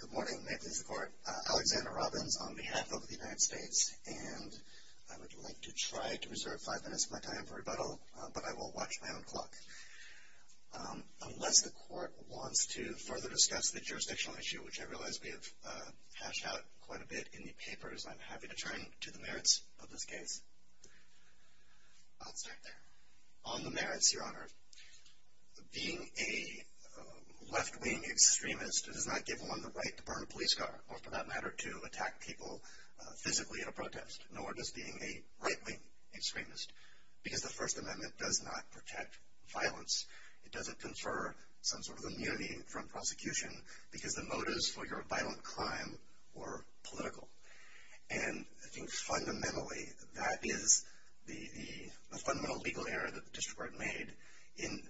Good morning. May it please the Court. Alexander Robbins on behalf of the United States. And I would like to try to reserve five minutes of my time for rebuttal, but I will watch my own clock. Unless the Court wants to further discuss the jurisdictional issue, which I realize we have hashed out quite a bit in the papers, I'm happy to turn to the merits of this case. I'll start there. On the merits, Your Honor, being a left-wing extremist does not give one the right to burn a police car, nor for that matter to attack people physically in a protest, nor does being a right-wing extremist, because the First Amendment does not protect violence. It doesn't confer some sort of immunity from prosecution because the motives for your violent crime were political. And I think fundamentally that is the fundamental legal error that the District Court made in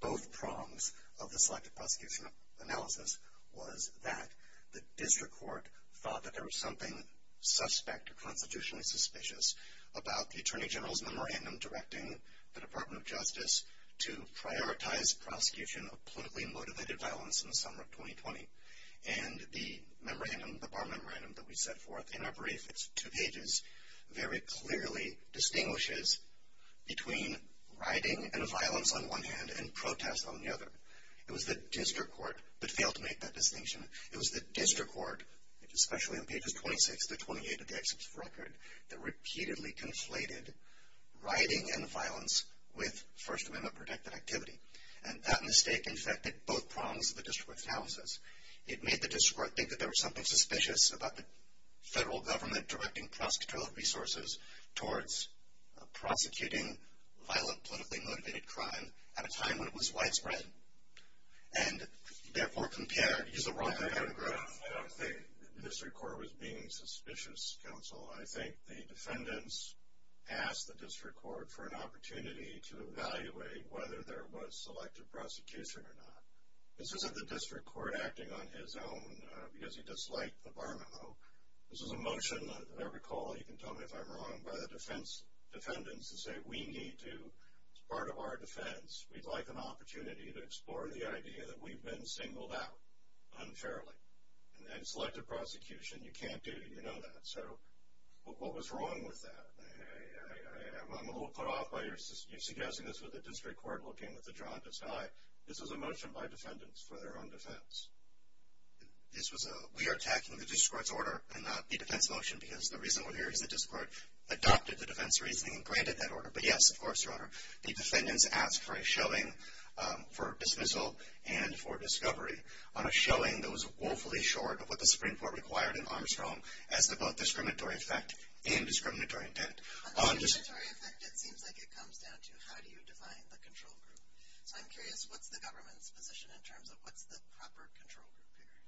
both prongs of the selective prosecution analysis was that the District Court thought that there was something suspect or constitutionally suspicious about the Attorney General's memorandum directing the Department of Justice to prioritize prosecution of politically motivated violence in the summer of 2020. And the memorandum, the bar memorandum that we set forth in our brief, it's two pages, very clearly distinguishes between rioting and violence on one hand and protest on the other. It was the District Court that failed to make that distinction. It was the District Court, especially on pages 26 to 28 of the executive record, that repeatedly conflated rioting and violence with First Amendment-protected activity. And that mistake infected both prongs of the district analysis. It made the District Court think that there was something suspicious about the federal government directing cross-controlled resources towards prosecuting violent, politically motivated crime at a time when it was widespread. And, therefore, compare, use the wrong kind of graph. Well, I think the defendants asked the District Court for an opportunity to evaluate whether there was selective prosecution or not. This isn't the District Court acting on his own because he disliked the bar memo. This is a motion, if I recall, you can tell me if I'm wrong, by the defendants to say, we need to, as part of our defense, we'd like an opportunity to explore the idea that we've been singled out unfairly. And selective prosecution, you can't do, you know that. So what was wrong with that? I'm a little put off by you suggesting this with the District Court looking with a jaundiced eye. This was a motion by defendants for their own defense. We are attacking the District Court's order and not the defense motion because the reason we're here is the District Court adopted the defense reasoning and granted that order. But, yes, of course, Your Honor, the defendants asked for a shelling for dismissal and for discovery on a shelling that was woefully short of what the Supreme Court required in Armstrong as to both discriminatory effect and discriminatory intent. On discriminatory effect, it seems like it comes down to how do you define the control group. So I'm curious, what's the government's position in terms of what's the proper control group here?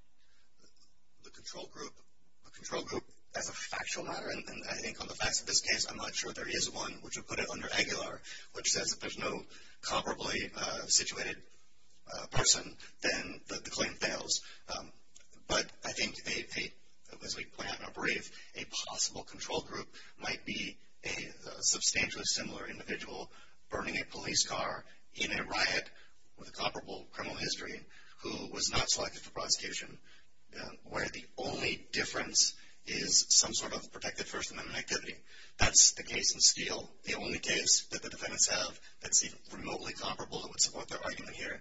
The control group as a factual matter, and I think on the facts of this case, I'm not sure there is one, which would put it under Aguilar, which says if there's no comparably situated person, then the claim fails. But I think, as we point out in our brief, a possible control group might be a substantially similar individual burning a police car in a riot with a comparable criminal history who was not selected for prosecution where the only difference is some sort of protective First Amendment activity. That's the case in Steele. The only case that the defendants have that's remotely comparable that would support their argument here.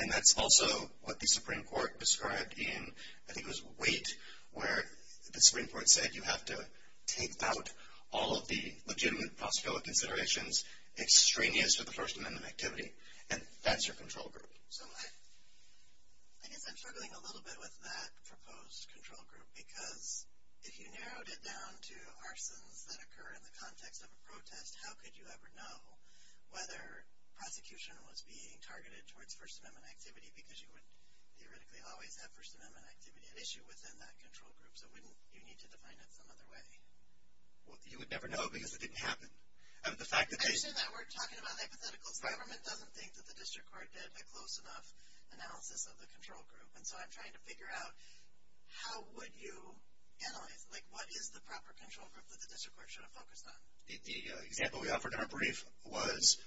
And that's also what the Supreme Court described in, I think it was Waite, where the Supreme Court said you have to take out all of the legitimate prosecutorial considerations extraneous to the First Amendment activity, and that's your control group. So I guess I'm struggling a little bit with that proposed control group because if you narrowed it down to arsons that occur in the context of a protest, how could you ever know whether prosecution was being targeted towards First Amendment activity because you would theoretically always have First Amendment activity at issue within that control group. So wouldn't you need to define it some other way? Well, you would never know because it didn't happen. I understand that we're talking about hypotheticals. The government doesn't think that the district court did a close enough analysis of the control group. And so I'm trying to figure out how would you analyze it? Like what is the proper control group that the district court should have focused on? The example we offered in our brief was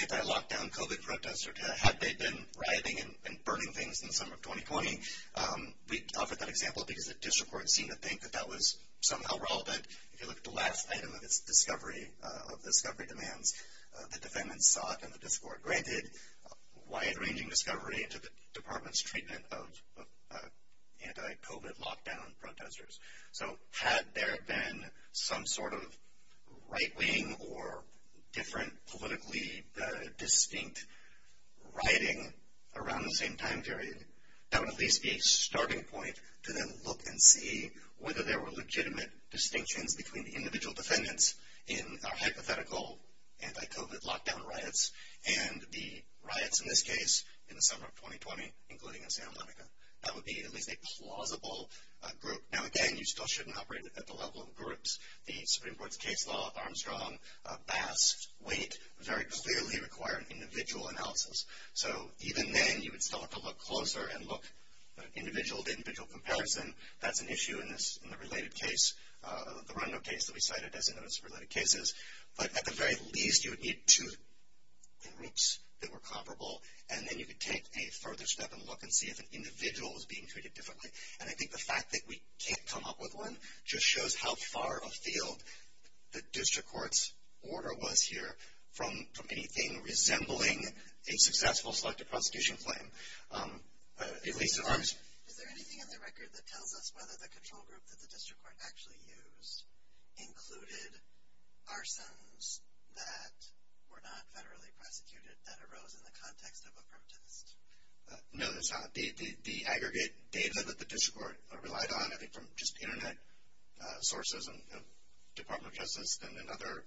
anti-lockdown COVID protesters. Had they been rioting and burning things in the summer of 2020, we offered that example because the district court seemed to think that that was somehow relevant. If you look at the last item of its discovery, of discovery demands, the defendants sought, and the district court granted wide-ranging discovery to the department's treatment of anti-COVID lockdown protesters. So had there been some sort of right-wing or different politically distinct rioting around the same time period, that would at least be a starting point to then look and see whether there were legitimate distinctions between the individual defendants in our hypothetical anti-COVID lockdown riots and the riots in this case in the summer of 2020, including in Santa Monica. That would be at least a plausible group. Now again, you still shouldn't operate at the level of groups. The Supreme Court's case law, Armstrong, Bass, Waite, very clearly require an individual analysis. So even then, you would still have to look closer and look at individual to individual comparison. That's an issue in the related case, the Rondo case that we cited as one of those related cases. But at the very least, you would need two groups that were comparable, and then you could take a further step and look and see if an individual was being treated differently. And I think the fact that we can't come up with one just shows how far afield the district court's order was here from anything resembling a successful selective prosecution claim, at least at Armstrong. Is there anything in the record that tells us whether the control group that the district court actually used included arsons that were not federally prosecuted that arose in the context of a protest? No, there's not. The aggregate data that the district court relied on, I think from just Internet sources and Department of Justice and other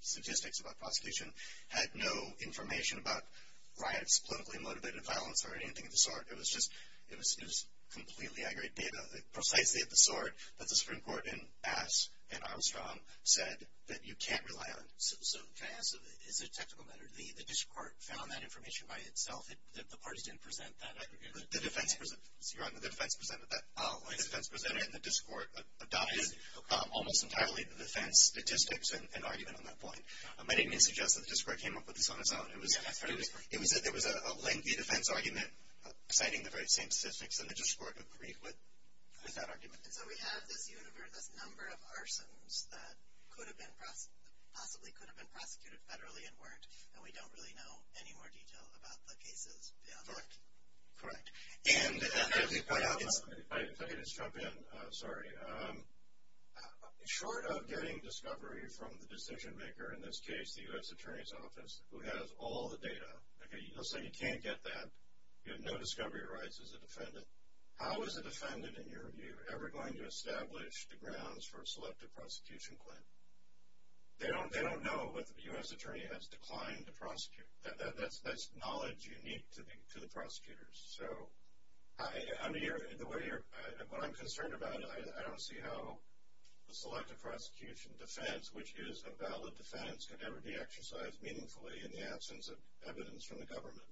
statistics about prosecution, had no information about riots, politically motivated violence, or anything of the sort. It was just completely aggregate data, precisely of the sort that the Supreme Court in Bass and Armstrong said that you can't rely on. So can I ask, is it a technical matter? The district court found that information by itself? The parties didn't present that? The defense presented that. Oh, I see. The defense presented it, and the district court adopted it almost entirely. The defense statistics and argument on that point. My name suggests that the district court came up with this on its own. Yeah, that's right. There was a lengthy defense argument citing the very same statistics, and the district court agreed with that argument. So we have this universe, this number of arsons that possibly could have been prosecuted federally and weren't, and we don't really know any more detail about the cases beyond that. And as you point out, it's – If I could just jump in, sorry. Short of getting discovery from the decision maker, in this case the U.S. Attorney's Office, who has all the data, okay, you'll say you can't get that, you have no discovery rights as a defendant. How is a defendant, in your view, ever going to establish the grounds for a selective prosecution claim? They don't know what the U.S. Attorney has declined to prosecute. That's knowledge unique to the prosecutors. So the way you're – what I'm concerned about, I don't see how a selective prosecution defense, which is a valid defense, could ever be exercised meaningfully in the absence of evidence from the government.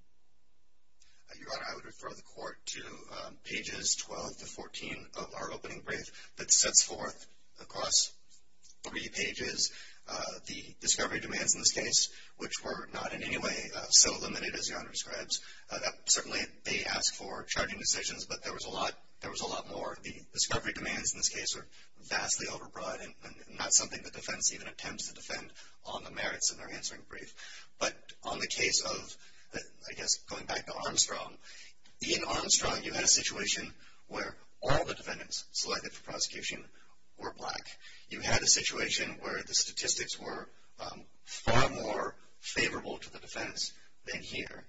Your Honor, I would refer the court to pages 12 to 14 of our opening brief that sets forth across three pages the discovery demands in this case, which were not in any way so limited as the Honor describes. Certainly they ask for charging decisions, but there was a lot more. The discovery demands in this case are vastly overbroad, and not something the defense even attempts to defend on the merits of their answering brief. But on the case of, I guess, going back to Armstrong, in Armstrong you had a situation where all the defendants selected for prosecution were black. You had a situation where the statistics were far more favorable to the defense than here.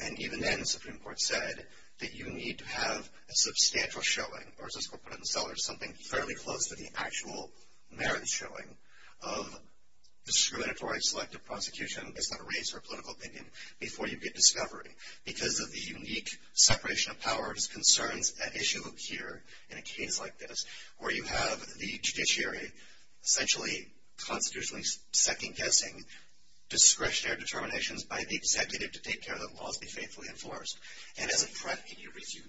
And even then, the Supreme Court said that you need to have a substantial showing, or as this court put it in Sellers, something fairly close to the actual merits showing, of discriminatory selective prosecution based on race or political opinion before you get discovery. Because of the unique separation of powers concerns at issue here in a case like this, where you have the judiciary essentially constitutionally second-guessing discretionary determinations by the executive to take care that laws be faithfully enforced. And as a front in your brief, you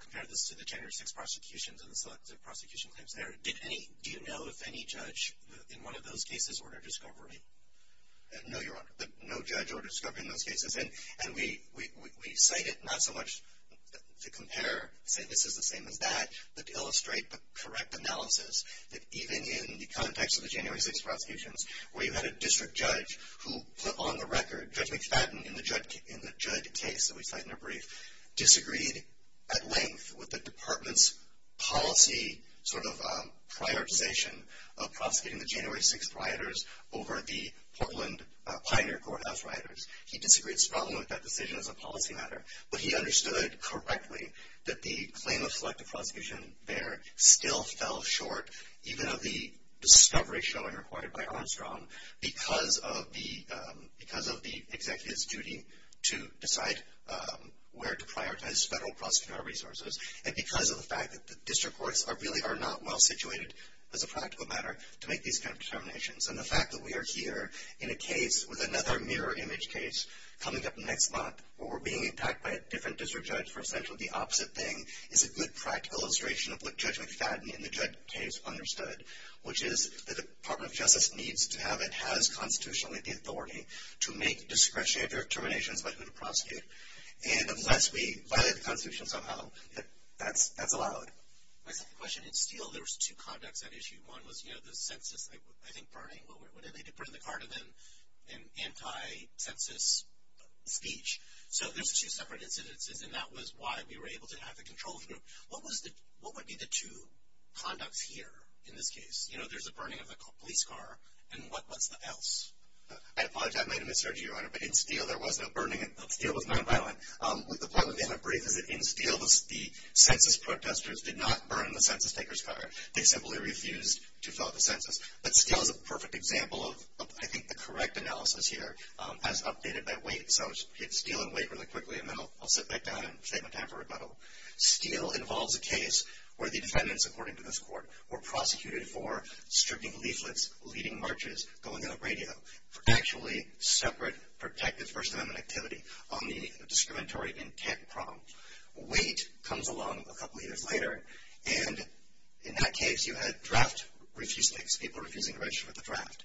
compared this to the January 6th prosecutions and the selective prosecution claims there. Do you know if any judge in one of those cases ordered discovery? No, Your Honor. No judge ordered discovery in those cases. And we cite it, not so much to compare, say this is the same as that, but to illustrate the correct analysis that even in the context of the January 6th prosecutions, where you had a district judge who put on the record, Judge McFadden, in the judge case that we cite in the brief, disagreed at length with the department's policy sort of prioritization of prosecuting the January 6th rioters over the Portland Pioneer Courthouse rioters. He disagreed strongly with that decision as a policy matter, but he understood correctly that the claim of selective prosecution there still fell short, even of the discovery showing required by Armstrong, because of the executive's duty to decide where to prioritize federal prosecutorial resources and because of the fact that the district courts really are not well-situated as a practical matter to make these kind of determinations. And the fact that we are here in a case with another mirror image case coming up next month where we're being attacked by a different district judge for essentially the opposite thing is a good practical illustration of what Judge McFadden in the judge case understood, which is the Department of Justice needs to have and has constitutionally the authority to make discretionary determinations about who to prosecute. And unless we violate the Constitution somehow, that's allowed. My second question, in Steele there was two conducts at issue. One was, you know, the census, I think Bernie, what did they do, put in the card an anti-census speech. So there's two separate incidences, and that was why we were able to have the control group. What would be the two conducts here in this case? You know, there's a burning of the police car, and what's the else? I apologize, I might have misheard you, Your Honor, but in Steele there was no burning, Steele was nonviolent. The point that they have in brief is that in Steele the census protesters did not burn the census taker's car. They simply refused to fill out the census. But Steele is a perfect example of, I think, the correct analysis here as updated by weight. So Steele and weight really quickly, and then I'll sit back down and save my time for rebuttal. Steele involves a case where the defendants, according to this court, were prosecuted for stripping leaflets, leading marches, going on the radio, for actually separate protective First Amendment activity on the discriminatory intent prompt. Weight comes along a couple years later, and in that case you had draft refusings, people refusing to register for the draft.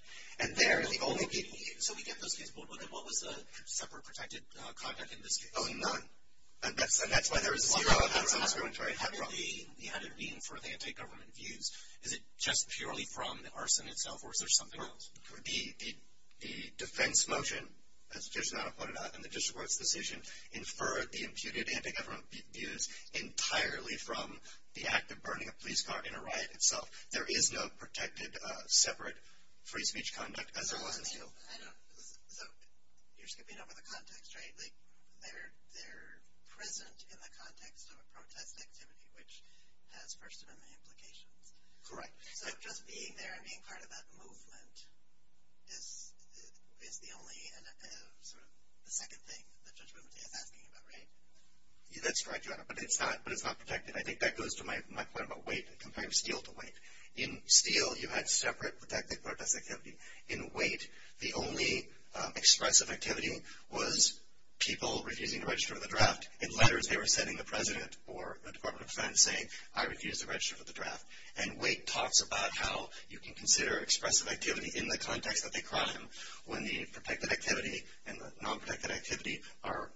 So we get those cases, but what was the separate protected conduct in this case? Oh, none. And that's why there was zero on the discriminatory intent prompt. You had an imputed anti-government views. Is it just purely from the arson itself, or is there something else? The defense motion, as Judge Notto pointed out in the district court's decision, inferred the imputed anti-government views entirely from the act of burning a police car in a riot itself. So there is no protected separate free speech conduct, as there was in Steele. So you're skipping over the context, right? They're present in the context of a protest activity, which has First Amendment implications. Correct. So just being there and being part of that movement is the only sort of second thing the judgment is asking about, right? That's correct, Your Honor, but it's not protected. I think that goes to my point about weight, comparing Steele to weight. In Steele, you had separate protected protest activity. In weight, the only expressive activity was people refusing to register for the draft. In letters, they were sending the president or the Department of Defense saying, I refuse to register for the draft. And weight talks about how you can consider expressive activity in the context that they crime when the protected activity and the non-protected activity are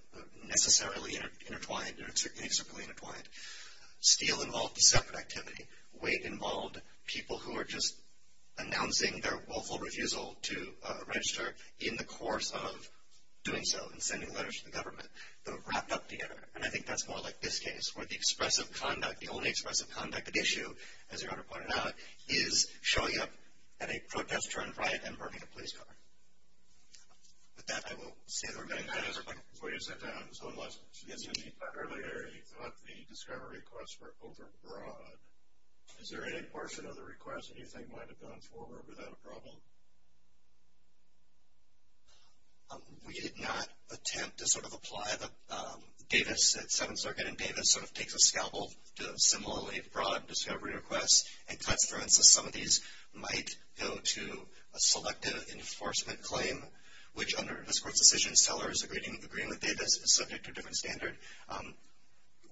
necessarily intertwined or inextricably intertwined. Steele involved a separate activity. Weight involved people who were just announcing their willful refusal to register in the course of doing so and sending letters to the government. They were wrapped up together, and I think that's more like this case, where the expressive conduct, the only expressive conduct at issue, as Your Honor pointed out, is showing up at a protest or a riot and burning a police car. With that, I will say the remaining comments. Your Honor, before you sit down, just one last question. Earlier, you thought the discovery requests were overbroad. Is there any portion of the request that you think might have gone forward without a problem? We did not attempt to sort of apply the Davis at Seventh Circuit and Davis sort of takes a scalpel to similarly broad discovery requests and cuts, for instance, some of these might go to a selective enforcement claim, which under this Court's decision, Sellers agreeing with Davis is subject to a different standard.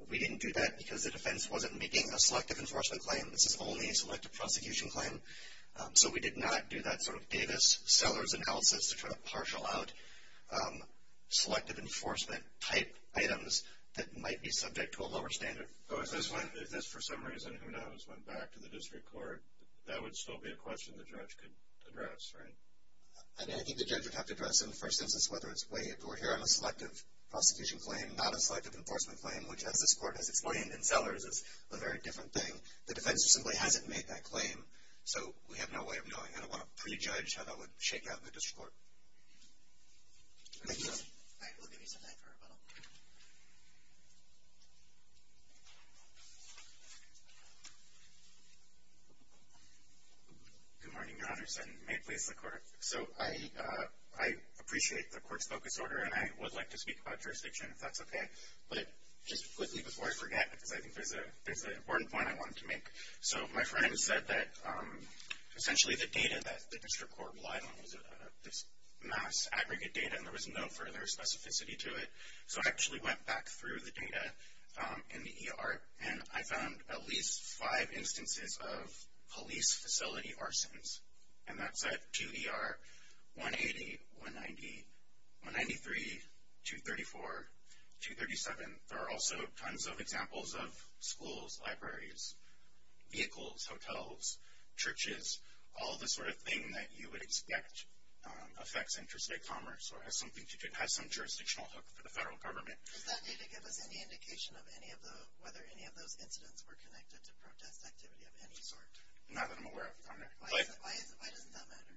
We didn't do that because the defense wasn't making a selective enforcement claim. This is only a selective prosecution claim. So we did not do that sort of Davis-Sellers analysis to try to partial out selective enforcement type items that might be subject to a lower standard. If this, for some reason, who knows, went back to the district court, that would still be a question the judge could address, right? I think the judge would have to address in the first instance whether it's waived or here on a selective prosecution claim, not a selective enforcement claim, which as this Court has explained in Sellers is a very different thing. The defense simply hasn't made that claim. So we have no way of knowing. I don't want to prejudge how that would shake out in the district court. Thank you. I will give you some time for rebuttal. Good morning, Your Honors, and may it please the Court. So I appreciate the Court's focus order, and I would like to speak about jurisdiction, if that's okay. But just quickly before I forget, because I think there's an important point I wanted to make. So my friend said that essentially the data that the district court relied on was this mass aggregate data, and there was no further specificity to it. So I actually went back through the data in the ER, and I found at least five instances of police facility arsons, and that's at 2ER, 180, 190, 193, 234, 237. There are also tons of examples of schools, libraries, vehicles, hotels, churches, all the sort of thing that you would expect affects interstate commerce or has some jurisdictional hook for the federal government. Does that data give us any indication of whether any of those incidents were connected to protest activity of any sort? Not that I'm aware of, Your Honor. Why doesn't that matter?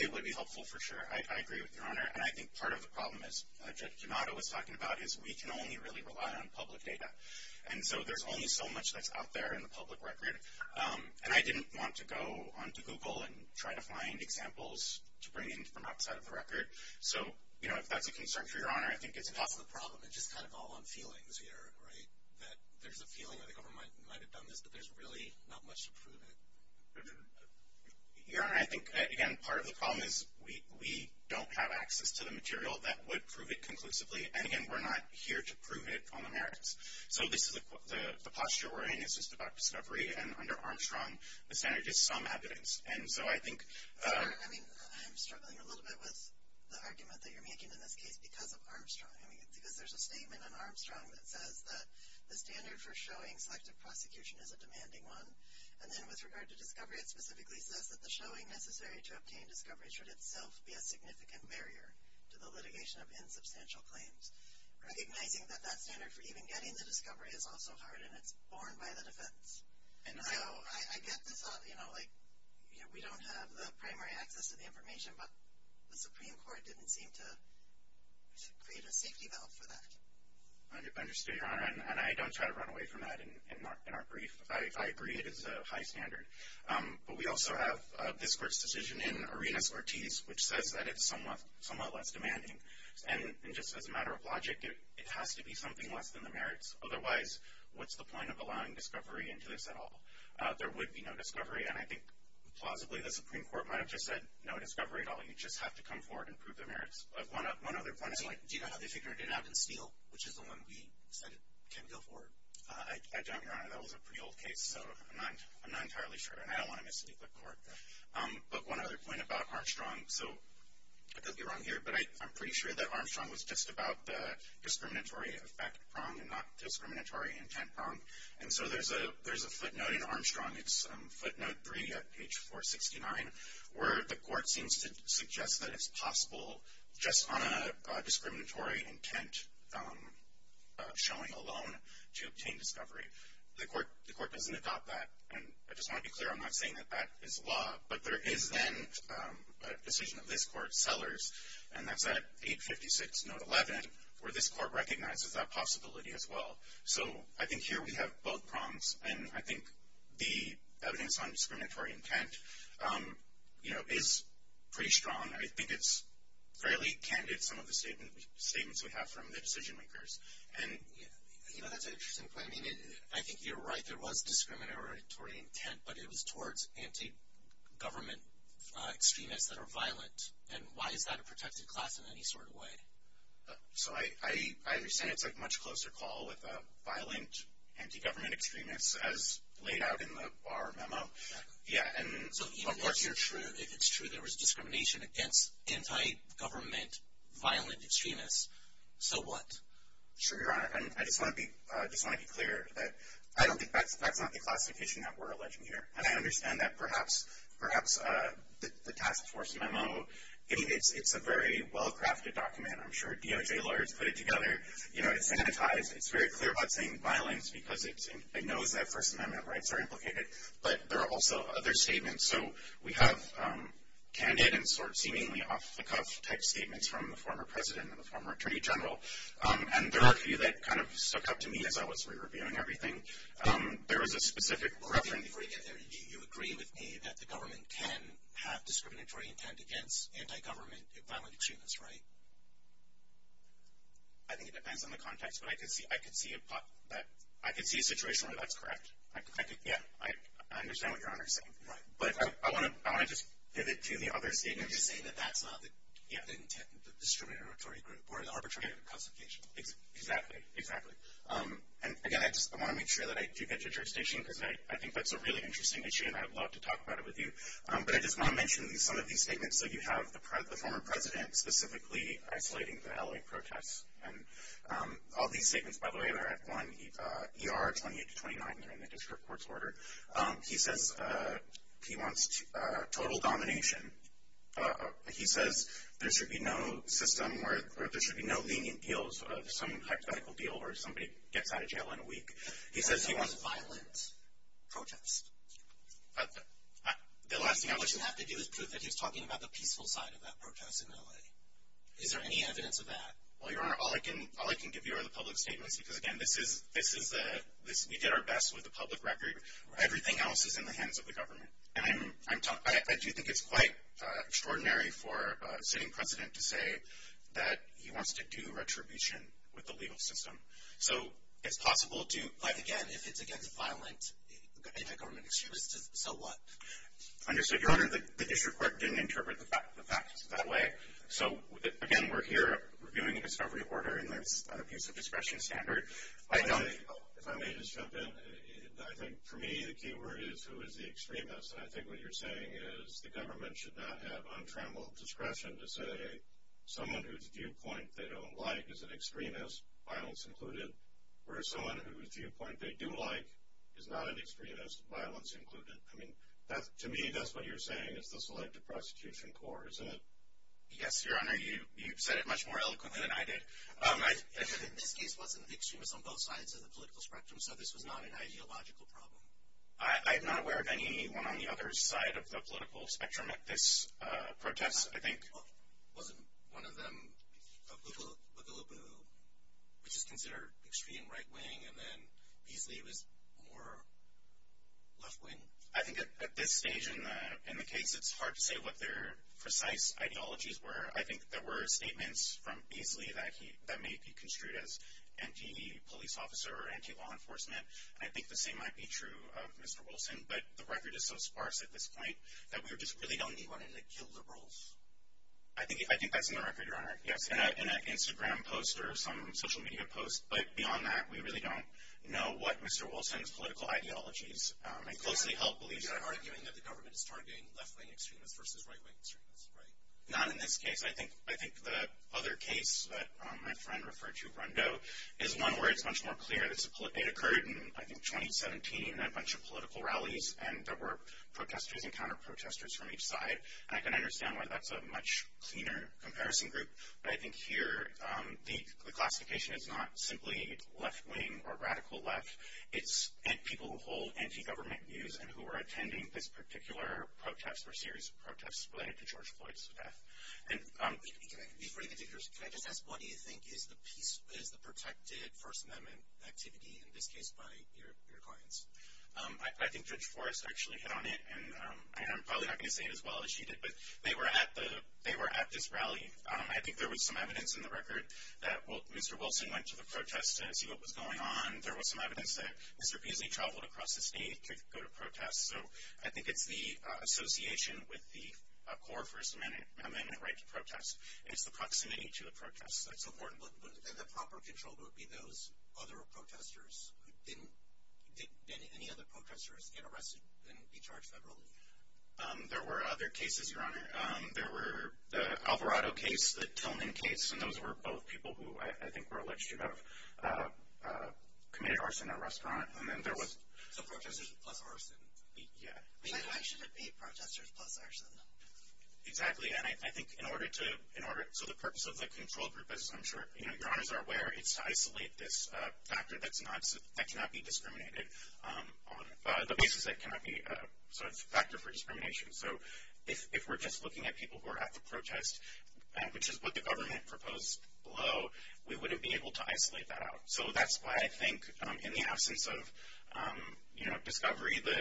It would be helpful for sure. I agree with Your Honor. And I think part of the problem, as Judge Genato was talking about, is we can only really rely on public data. And so there's only so much that's out there in the public record. And I didn't want to go onto Google and try to find examples to bring in from outside of the record. So, you know, if that's a concern for Your Honor, I think it's important. That's the problem. It's just kind of all on feelings here, right, that there's a feeling that the government might have done this, but there's really not much to prove it. Your Honor, I think, again, part of the problem is we don't have access to the material that would prove it conclusively. And, again, we're not here to prove it on the merits. So the posture we're in is just about discovery. And under Armstrong, the standard is some evidence. And so I think — Your Honor, I mean, I'm struggling a little bit with the argument that you're making in this case because of Armstrong. I mean, because there's a statement in Armstrong that says that the standard for showing selective prosecution is a demanding one. And then with regard to discovery, it specifically says that the showing necessary to obtain discovery should itself be a significant barrier to the litigation of insubstantial claims. Recognizing that that standard for even getting the discovery is also hard, and it's borne by the defense. And so I get the thought, you know, like we don't have the primary access to the information, but the Supreme Court didn't seem to create a safety valve for that. I understand, Your Honor. And I don't try to run away from that in our brief. I agree it is a high standard. But we also have this court's decision in Arenas-Ortiz, which says that it's somewhat less demanding. And just as a matter of logic, it has to be something less than the merits. Otherwise, what's the point of allowing discovery into this at all? There would be no discovery. And I think, plausibly, the Supreme Court might have just said, no discovery at all. You just have to come forward and prove the merits. One other point is like — Do you know how they figured it out in Steele, which is the one we said can go forward? I don't, Your Honor. That was a pretty old case, so I'm not entirely sure. And I don't want to mislead the court. But one other point about Armstrong. So I could be wrong here, but I'm pretty sure that Armstrong was just about the discriminatory effect prong and not discriminatory intent prong. And so there's a footnote in Armstrong. It's footnote 3 at page 469, where the court seems to suggest that it's possible, just on a discriminatory intent showing alone, to obtain discovery. The court doesn't adopt that. And I just want to be clear, I'm not saying that that is law. But there is then a decision of this court, Sellers, and that's at 856, note 11, where this court recognizes that possibility as well. So I think here we have both prongs. And I think the evidence on discriminatory intent, you know, is pretty strong. I think it's fairly candid, some of the statements we have from the decision-makers. And, you know, that's an interesting point. I mean, I think you're right, there was discriminatory intent, but it was towards anti-government extremists that are violent. And why is that a protected class in any sort of way? So I understand it's a much closer call with a violent anti-government extremist, as laid out in the Barr memo. So if it's true there was discrimination against anti-government violent extremists, so what? Sure, Your Honor. And I just want to be clear that I don't think that's not the classification that we're alleging here. And I understand that perhaps the task force memo, it's a very well-crafted document. I'm sure DOJ lawyers put it together. You know, it's sanitized. It's very clear about saying violence because it knows that First Amendment rights are implicated. But there are also other statements. So we have candid and sort of seemingly off-the-cuff type statements from the former president and the former attorney general. And there are a few that kind of stuck out to me as I was re-reviewing everything. There was a specific reference. You agree with me that the government can have discriminatory intent against anti-government violent extremists, right? I think it depends on the context, but I could see a situation where that's correct. Yeah, I understand what Your Honor is saying. But I want to just pivot to the other statement. You're just saying that that's not the discriminatory group or the arbitrary classification. Exactly, exactly. And, again, I want to make sure that I do get to your station because I think that's a really interesting issue and I would love to talk about it with you. But I just want to mention some of these statements. So you have the former president specifically isolating the L.A. protests. And all these statements, by the way, they're at 1 ER 28-29. They're in the district court's order. He says he wants total domination. He says there should be no system where there should be no lenient appeals of some hypothetical deal where somebody gets out of jail in a week. He says he wants violent protests. The last thing I'm going to have to do is prove that he's talking about the peaceful side of that protest in L.A. Is there any evidence of that? Well, Your Honor, all I can give you are the public statements because, again, this is the we did our best with the public record. Everything else is in the hands of the government. And I do think it's quite extraordinary for a sitting president to say that he wants to do retribution with the legal system. So it's possible to, like, again, if it's against a violent anti-government excuse, so what? Understood, Your Honor. The district court didn't interpret the fact that way. So, again, we're here reviewing the discovery order and that's a piece of discretion standard. If I may just jump in, I think for me the key word is who is the extremist. And I think what you're saying is the government should not have untrammeled discretion to say someone whose viewpoint they don't like is an extremist, violence included, whereas someone whose viewpoint they do like is not an extremist, violence included. I mean, to me, that's what you're saying is the Selective Prosecution Corps. Yes, Your Honor, you said it much more eloquently than I did. This case wasn't extremist on both sides of the political spectrum, so this was not an ideological problem. I'm not aware of anyone on the other side of the political spectrum at this protest, I think. It wasn't one of them. Bougaloo Boo, which is considered extreme right wing, and then Beasley was more left wing. I think at this stage in the case, it's hard to say what their precise ideologies were. I think there were statements from Beasley that may be construed as anti-police officer or anti-law enforcement, and I think the same might be true of Mr. Wilson. But the record is so sparse at this point that we just really don't need one of the kill liberals. I think that's in the record, Your Honor, yes, in an Instagram post or some social media post. But beyond that, we really don't know what Mr. Wilson's political ideologies are. I closely help believe that. You're arguing that the government is targeting left wing extremists versus right wing extremists, right? Not in this case. I think the other case that my friend referred to, Rundo, is one where it's much more clear. It occurred in, I think, 2017 at a bunch of political rallies, and there were protesters and counter-protesters from each side, and I can understand why that's a much cleaner comparison group. But I think here the classification is not simply left wing or radical left. It's people who hold anti-government views and who are attending this particular protest or series of protests related to George Floyd's death. Can I just ask, what do you think is the protected First Amendment activity, in this case, by your clients? I think Judge Forrest actually hit on it, and I'm probably not going to say it as well as she did, but they were at this rally. I think there was some evidence in the record that Mr. Wilson went to the protest to see what was going on. There was some evidence that Mr. Beasley traveled across the state to go to protests. So I think it's the association with the core First Amendment right to protest, and it's the proximity to the protest. That's important. And the proper control would be those other protesters who didn't, didn't any other protesters get arrested and be charged federally? There were other cases, Your Honor. There were the Alvarado case, the Tillman case, and those were both people who I think were alleged to have committed arson at a restaurant. So protesters plus arson. Yeah. Why should it be protesters plus arson? Exactly. And I think in order to, so the purpose of the control group, as I'm sure Your Honors are aware, is to isolate this factor that cannot be discriminated on, the basis that cannot be, so it's a factor for discrimination. So if we're just looking at people who are at the protest, which is what the government proposed below, we wouldn't be able to isolate that out. So that's why I think in the absence of, you know, discovery, the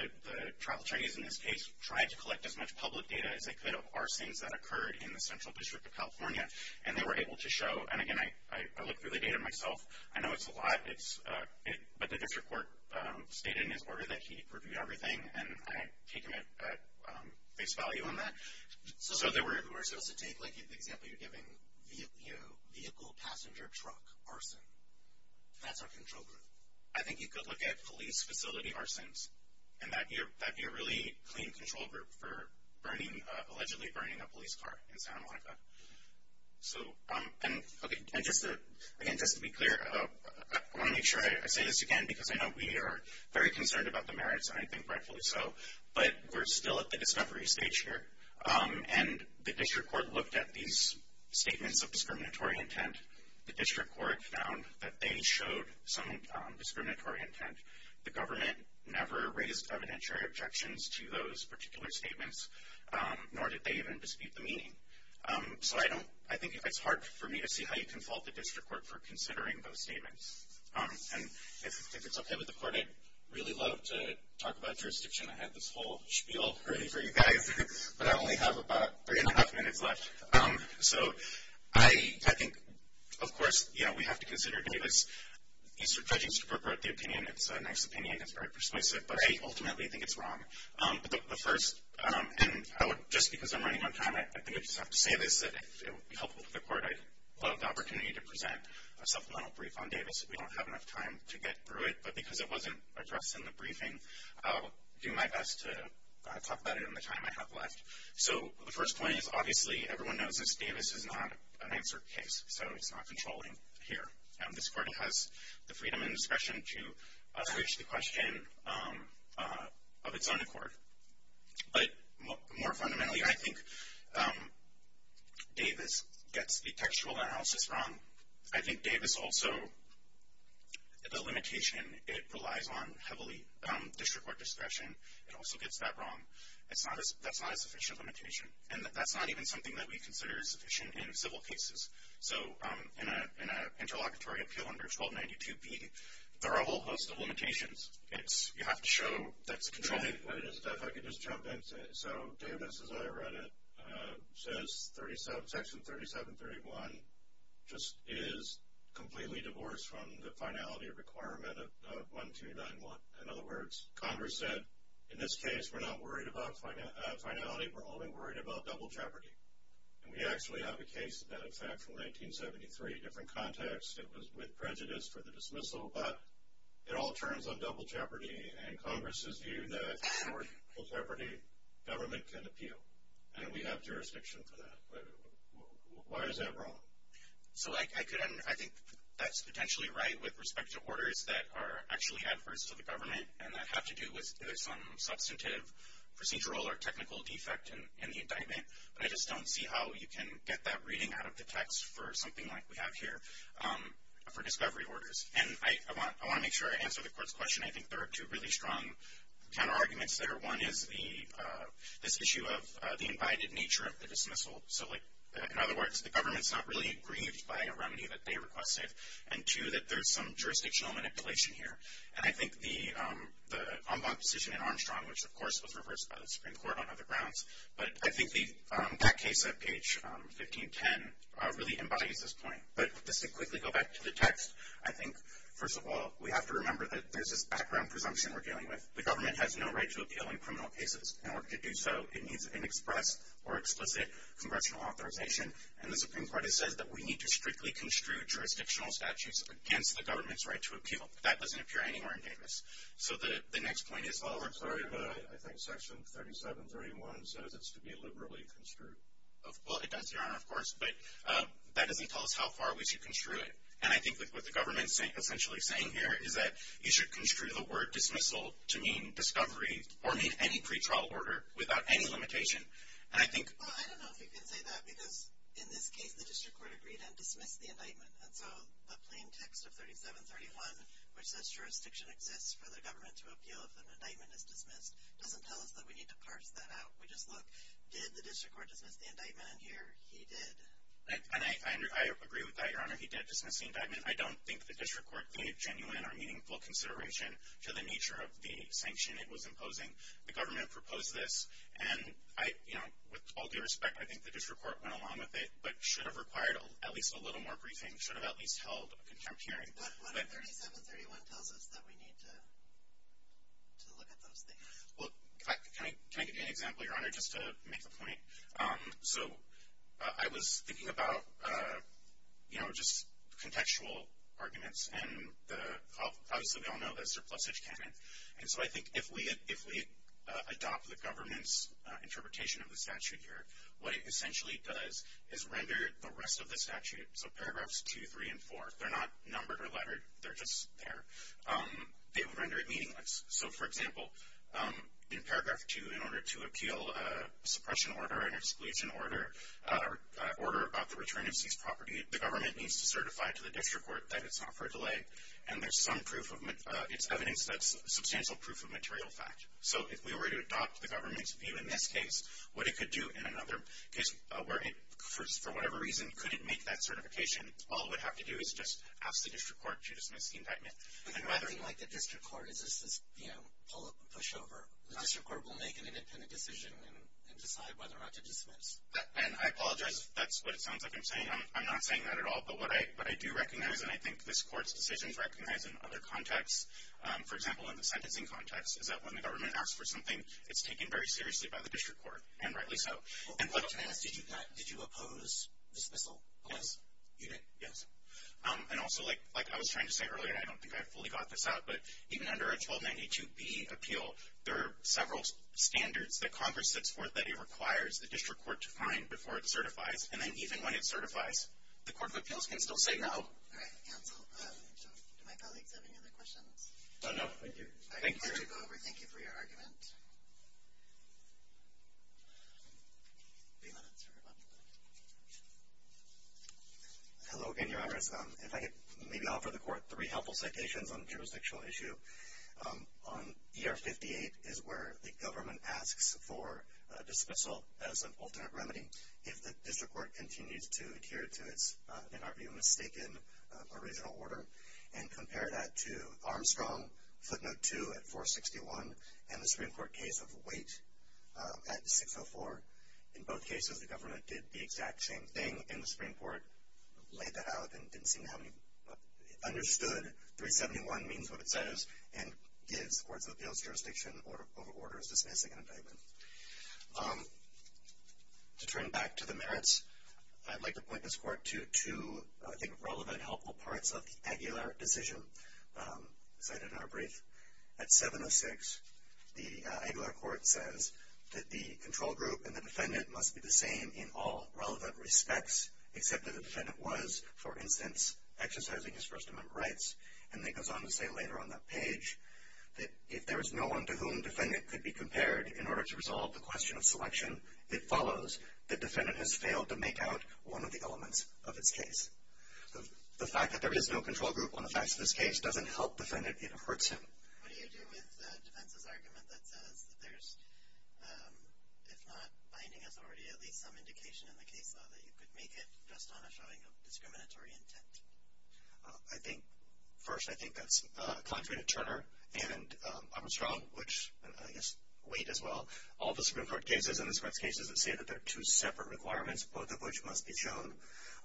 trial attorneys in this case tried to collect as much public data as they could of arsons that occurred in the central district of California. And they were able to show, and again, I looked through the data myself. I know it's a lot, but the district court stated in his order that he reviewed everything, and I take him at face value on that. So we're supposed to take, like, the example you're giving, you know, vehicle, passenger, truck arson. That's our control group. I think you could look at police facility arsons, and that would be a really clean control group for allegedly burning a police car in Santa Monica. So, okay, and just to be clear, I want to make sure I say this again, because I know we are very concerned about the merits, and I think rightfully so, but we're still at the discovery stage here. And the district court looked at these statements of discriminatory intent. The district court found that they showed some discriminatory intent. The government never raised evidentiary objections to those particular statements, nor did they even dispute the meaning. So I think it's hard for me to see how you can fault the district court for considering those statements. And if it's okay with the court, I'd really love to talk about jurisdiction. I have this whole spiel ready for you guys, but I only have about three and a half minutes left. So I think, of course, you know, we have to consider Davis. These are judges who report the opinion. It's a nice opinion. It's very persuasive, but I ultimately think it's wrong. But the first, and just because I'm running on time, I think I just have to say this, that it would be helpful for the court. I'd love the opportunity to present a supplemental brief on Davis. We don't have enough time to get through it, but because it wasn't addressed in the briefing, I'll do my best to talk about it in the time I have left. So the first point is, obviously, everyone knows this Davis is not an answer case, so it's not controlling here. This court has the freedom and discretion to ask the question of its own accord. But more fundamentally, I think Davis gets the textual analysis wrong. I think Davis also, the limitation, it relies on heavily district court discretion. It also gets that wrong. That's not a sufficient limitation. And that's not even something that we consider sufficient in civil cases. So in an interlocutory appeal under 1292B, there are a whole host of limitations. You have to show that it's controlling. If I could just jump into it. So Davis, as I read it, says Section 3731 just is completely divorced from the finality requirement of 1291. In other words, Congress said, in this case, we're not worried about finality. We're only worried about double jeopardy. And we actually have a case that, in fact, from 1973, different context, it was with prejudice for the dismissal. But it all turns on double jeopardy, and Congress's view that for double jeopardy, government can appeal. And we have jurisdiction for that. But why is that wrong? So I think that's potentially right with respect to orders that are actually adverse to the government and that have to do with some substantive procedural or technical defect in the indictment. But I just don't see how you can get that reading out of the text for something like we have here for discovery orders. And I want to make sure I answer the Court's question. I think there are two really strong counterarguments there. One is this issue of the invited nature of the dismissal. So, like, in other words, the government's not really aggrieved by a remedy that they requested. And, two, that there's some jurisdictional manipulation here. And I think the en banc decision in Armstrong, which, of course, was reversed by the Supreme Court on other grounds. But I think that case at page 1510 really embodies this point. But just to quickly go back to the text, I think, first of all, we have to remember that there's this background presumption we're dealing with. The government has no right to appeal in criminal cases. In order to do so, it needs an express or explicit congressional authorization. And the Supreme Court has said that we need to strictly construe jurisdictional statutes against the government's right to appeal. That doesn't appear anywhere in Davis. So the next point is, oh, I'm sorry, but I think Section 3731 says it's to be liberally construed. Well, it does, Your Honor, of course. But that doesn't tell us how far we should construe it. And I think what the government's essentially saying here is that you should construe the word dismissal to mean discovery or mean any pretrial order without any limitation. And I think… Well, I don't know if you can say that because, in this case, the district court agreed and dismissed the indictment. And so the plain text of 3731, which says jurisdiction exists for the government to appeal if an indictment is dismissed, doesn't tell us that we need to parse that out. We just look, did the district court dismiss the indictment? And here, he did. And I agree with that, Your Honor. He did dismiss the indictment. I don't think the district court gave genuine or meaningful consideration to the nature of the sanction it was imposing. The government proposed this. And, you know, with all due respect, I think the district court went along with it but should have required at least a little more briefing, should have at least held a contempt hearing. But 3731 tells us that we need to look at those things. Well, can I give you an example, Your Honor, just to make a point? So I was thinking about, you know, just contextual arguments. And obviously, we all know that surplusage canon. And so I think if we adopt the government's interpretation of the statute here, what it essentially does is render the rest of the statute, so paragraphs 2, 3, and 4, they're not numbered or lettered, they're just there, they would render it meaningless. So, for example, in paragraph 2, in order to appeal a suppression order, an exclusion order, an order about the return of seized property, the government needs to certify to the district court that it's not for delay. And there's some proof of it's evidence that's substantial proof of material fact. So if we were to adopt the government's view in this case, what it could do in another case, where it, for whatever reason, couldn't make that certification, all it would have to do is just ask the district court to dismiss the indictment. And nothing like the district court is just this, you know, push over. The district court will make an independent decision and decide whether or not to dismiss. And I apologize if that's what it sounds like I'm saying. I'm not saying that at all. But what I do recognize, and I think this court's decisions recognize in other contexts, for example, in the sentencing context, is that when the government asks for something, it's taken very seriously by the district court. And rightly so. But to ask, did you oppose dismissal? Yes. You did? Yes. And also, like I was trying to say earlier, I don't think I fully got this out, but even under a 1292B appeal, there are several standards that Congress sets forth that it requires the district court to find before it certifies. And then even when it certifies, the court of appeals can still say no. All right. Cancel. Do my colleagues have any other questions? No, no. Thank you. Thank you for your argument. Hello again, Your Honors. If I could maybe offer the court three helpful citations on the jurisdictional issue. On ER 58 is where the government asks for dismissal as an alternate remedy if the district court continues to adhere to its, in our view, mistaken original order. And compare that to Armstrong footnote 2 at 461 and the Supreme Court case of Wait at 604. In both cases, the government did the exact same thing, and the Supreme Court laid that out and didn't seem to have understood 371 means what it says and gives the courts of appeals jurisdiction over orders dismissing an indictment. To turn back to the merits, I'd like to point this court to two, I think, relevant helpful parts of the Aguilar decision cited in our brief. At 706, the Aguilar court says that the control group and the defendant must be the same in all relevant respects except that the defendant was, for instance, exercising his First Amendment rights. And then it goes on to say later on that page that if there is no one to whom the defendant could be compared in order to resolve the question of selection, it follows that the defendant has failed to make out one of the elements of its case. The fact that there is no control group on the facts of this case doesn't help the defendant. It hurts him. What do you do with defense's argument that says that there's, if not binding us already, at least some indication in the case law that you could make it just on a showing of discriminatory intent? I think, first, I think that's contrary to Turner and Armstrong, which I guess weight as well. All the Supreme Court cases and this court's cases say that they're two separate requirements, both of which must be shown.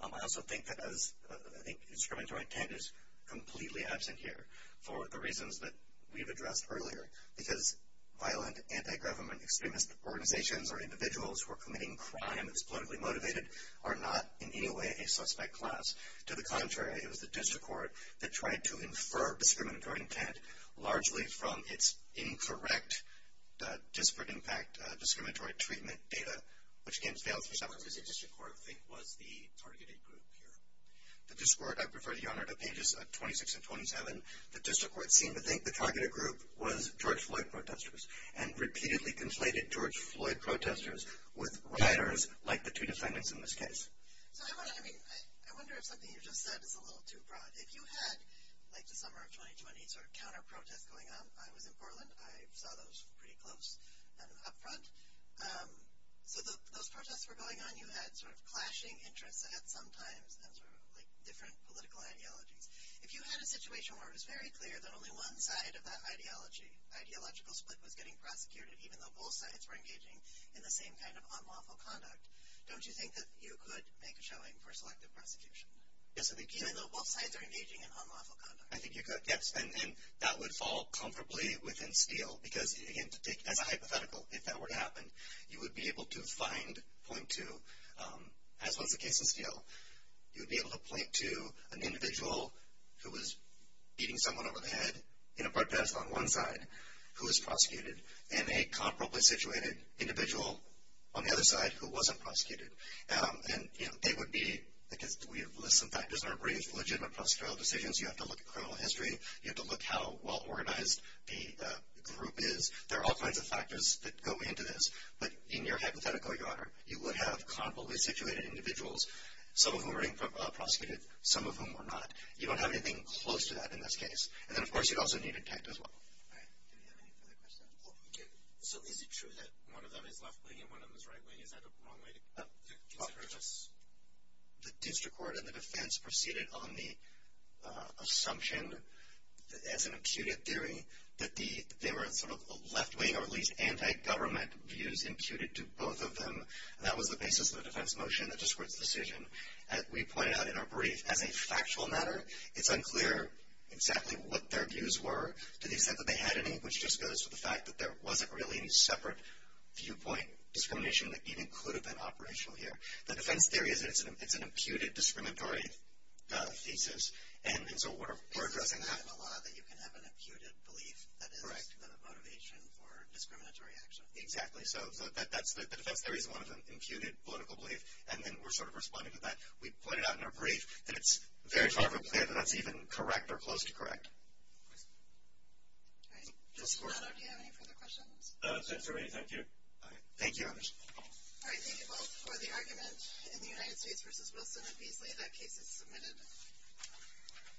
I also think that as I think discriminatory intent is completely absent here for the reasons that we've addressed earlier, because violent anti-government extremist organizations or individuals who are committing crime and it's politically motivated are not in any way a suspect class. To the contrary, it was the district court that tried to infer discriminatory intent, largely from its incorrect disparate impact discriminatory treatment data, which, again, fails for some reasons. The district court, I think, was the targeted group here. The district court, I prefer the honor to pages 26 and 27. The district court seemed to think the targeted group was George Floyd protesters and repeatedly conflated George Floyd protesters with rioters, like the two defendants in this case. So, I wonder, I mean, I wonder if something you just said is a little too broad. If you had, like the summer of 2020, sort of counter-protests going on. I was in Portland. I saw those pretty close and up front. So, those protests were going on. You had sort of clashing interests at some times and sort of like different political ideologies. If you had a situation where it was very clear that only one side of that ideology, ideological split, was getting prosecuted, even though both sides were engaging in the same kind of unlawful conduct, don't you think that you could make a showing for selective prosecution? Yes, I think you could. Even though both sides are engaging in unlawful conduct. I think you could, yes, and that would fall comfortably within Steele, because, again, as a hypothetical, if that were to happen, you would be able to find, point to, as was the case in Steele, you would be able to point to an individual who was beating someone over the head in a protest on one side, who was prosecuted, and a comparably situated individual on the other side who wasn't prosecuted. And, you know, they would be, because we have listed some factors in our brief, legitimate prosecutorial decisions. You have to look at criminal history. You have to look how well organized the group is. There are all kinds of factors that go into this. But, in your hypothetical, Your Honor, you would have comparably situated individuals. Some of whom are being prosecuted, some of whom are not. You don't have anything close to that in this case. And then, of course, you'd also need intent as well. All right. Do we have any further questions? Okay. So is it true that one of them is left-wing and one of them is right-wing? Is that a wrong way to consider this? The district court and the defense proceeded on the assumption, as an imputed theory, that they were sort of left-wing or at least anti-government views imputed to both of them. That was the basis of the defense motion, the district's decision. As we pointed out in our brief, as a factual matter, it's unclear exactly what their views were, to the extent that they had any, which just goes to the fact that there wasn't really any separate viewpoint discrimination that even could have been operational here. The defense theory is that it's an imputed, discriminatory thesis. And so we're addressing that. It doesn't happen a lot that you can have an imputed belief that is the motivation for discriminatory action. Exactly. So that's the defense theory is one of them, imputed political belief. And then we're sort of responding to that. We pointed out in our brief that it's very far from clear that that's even correct or close to correct. All right. Mr. Leonard, do you have any further questions? Since there are many, thank you. All right. Thank you. All right. Thank you both for the argument. In the United States v. Wilson and Beasley, that case is submitted.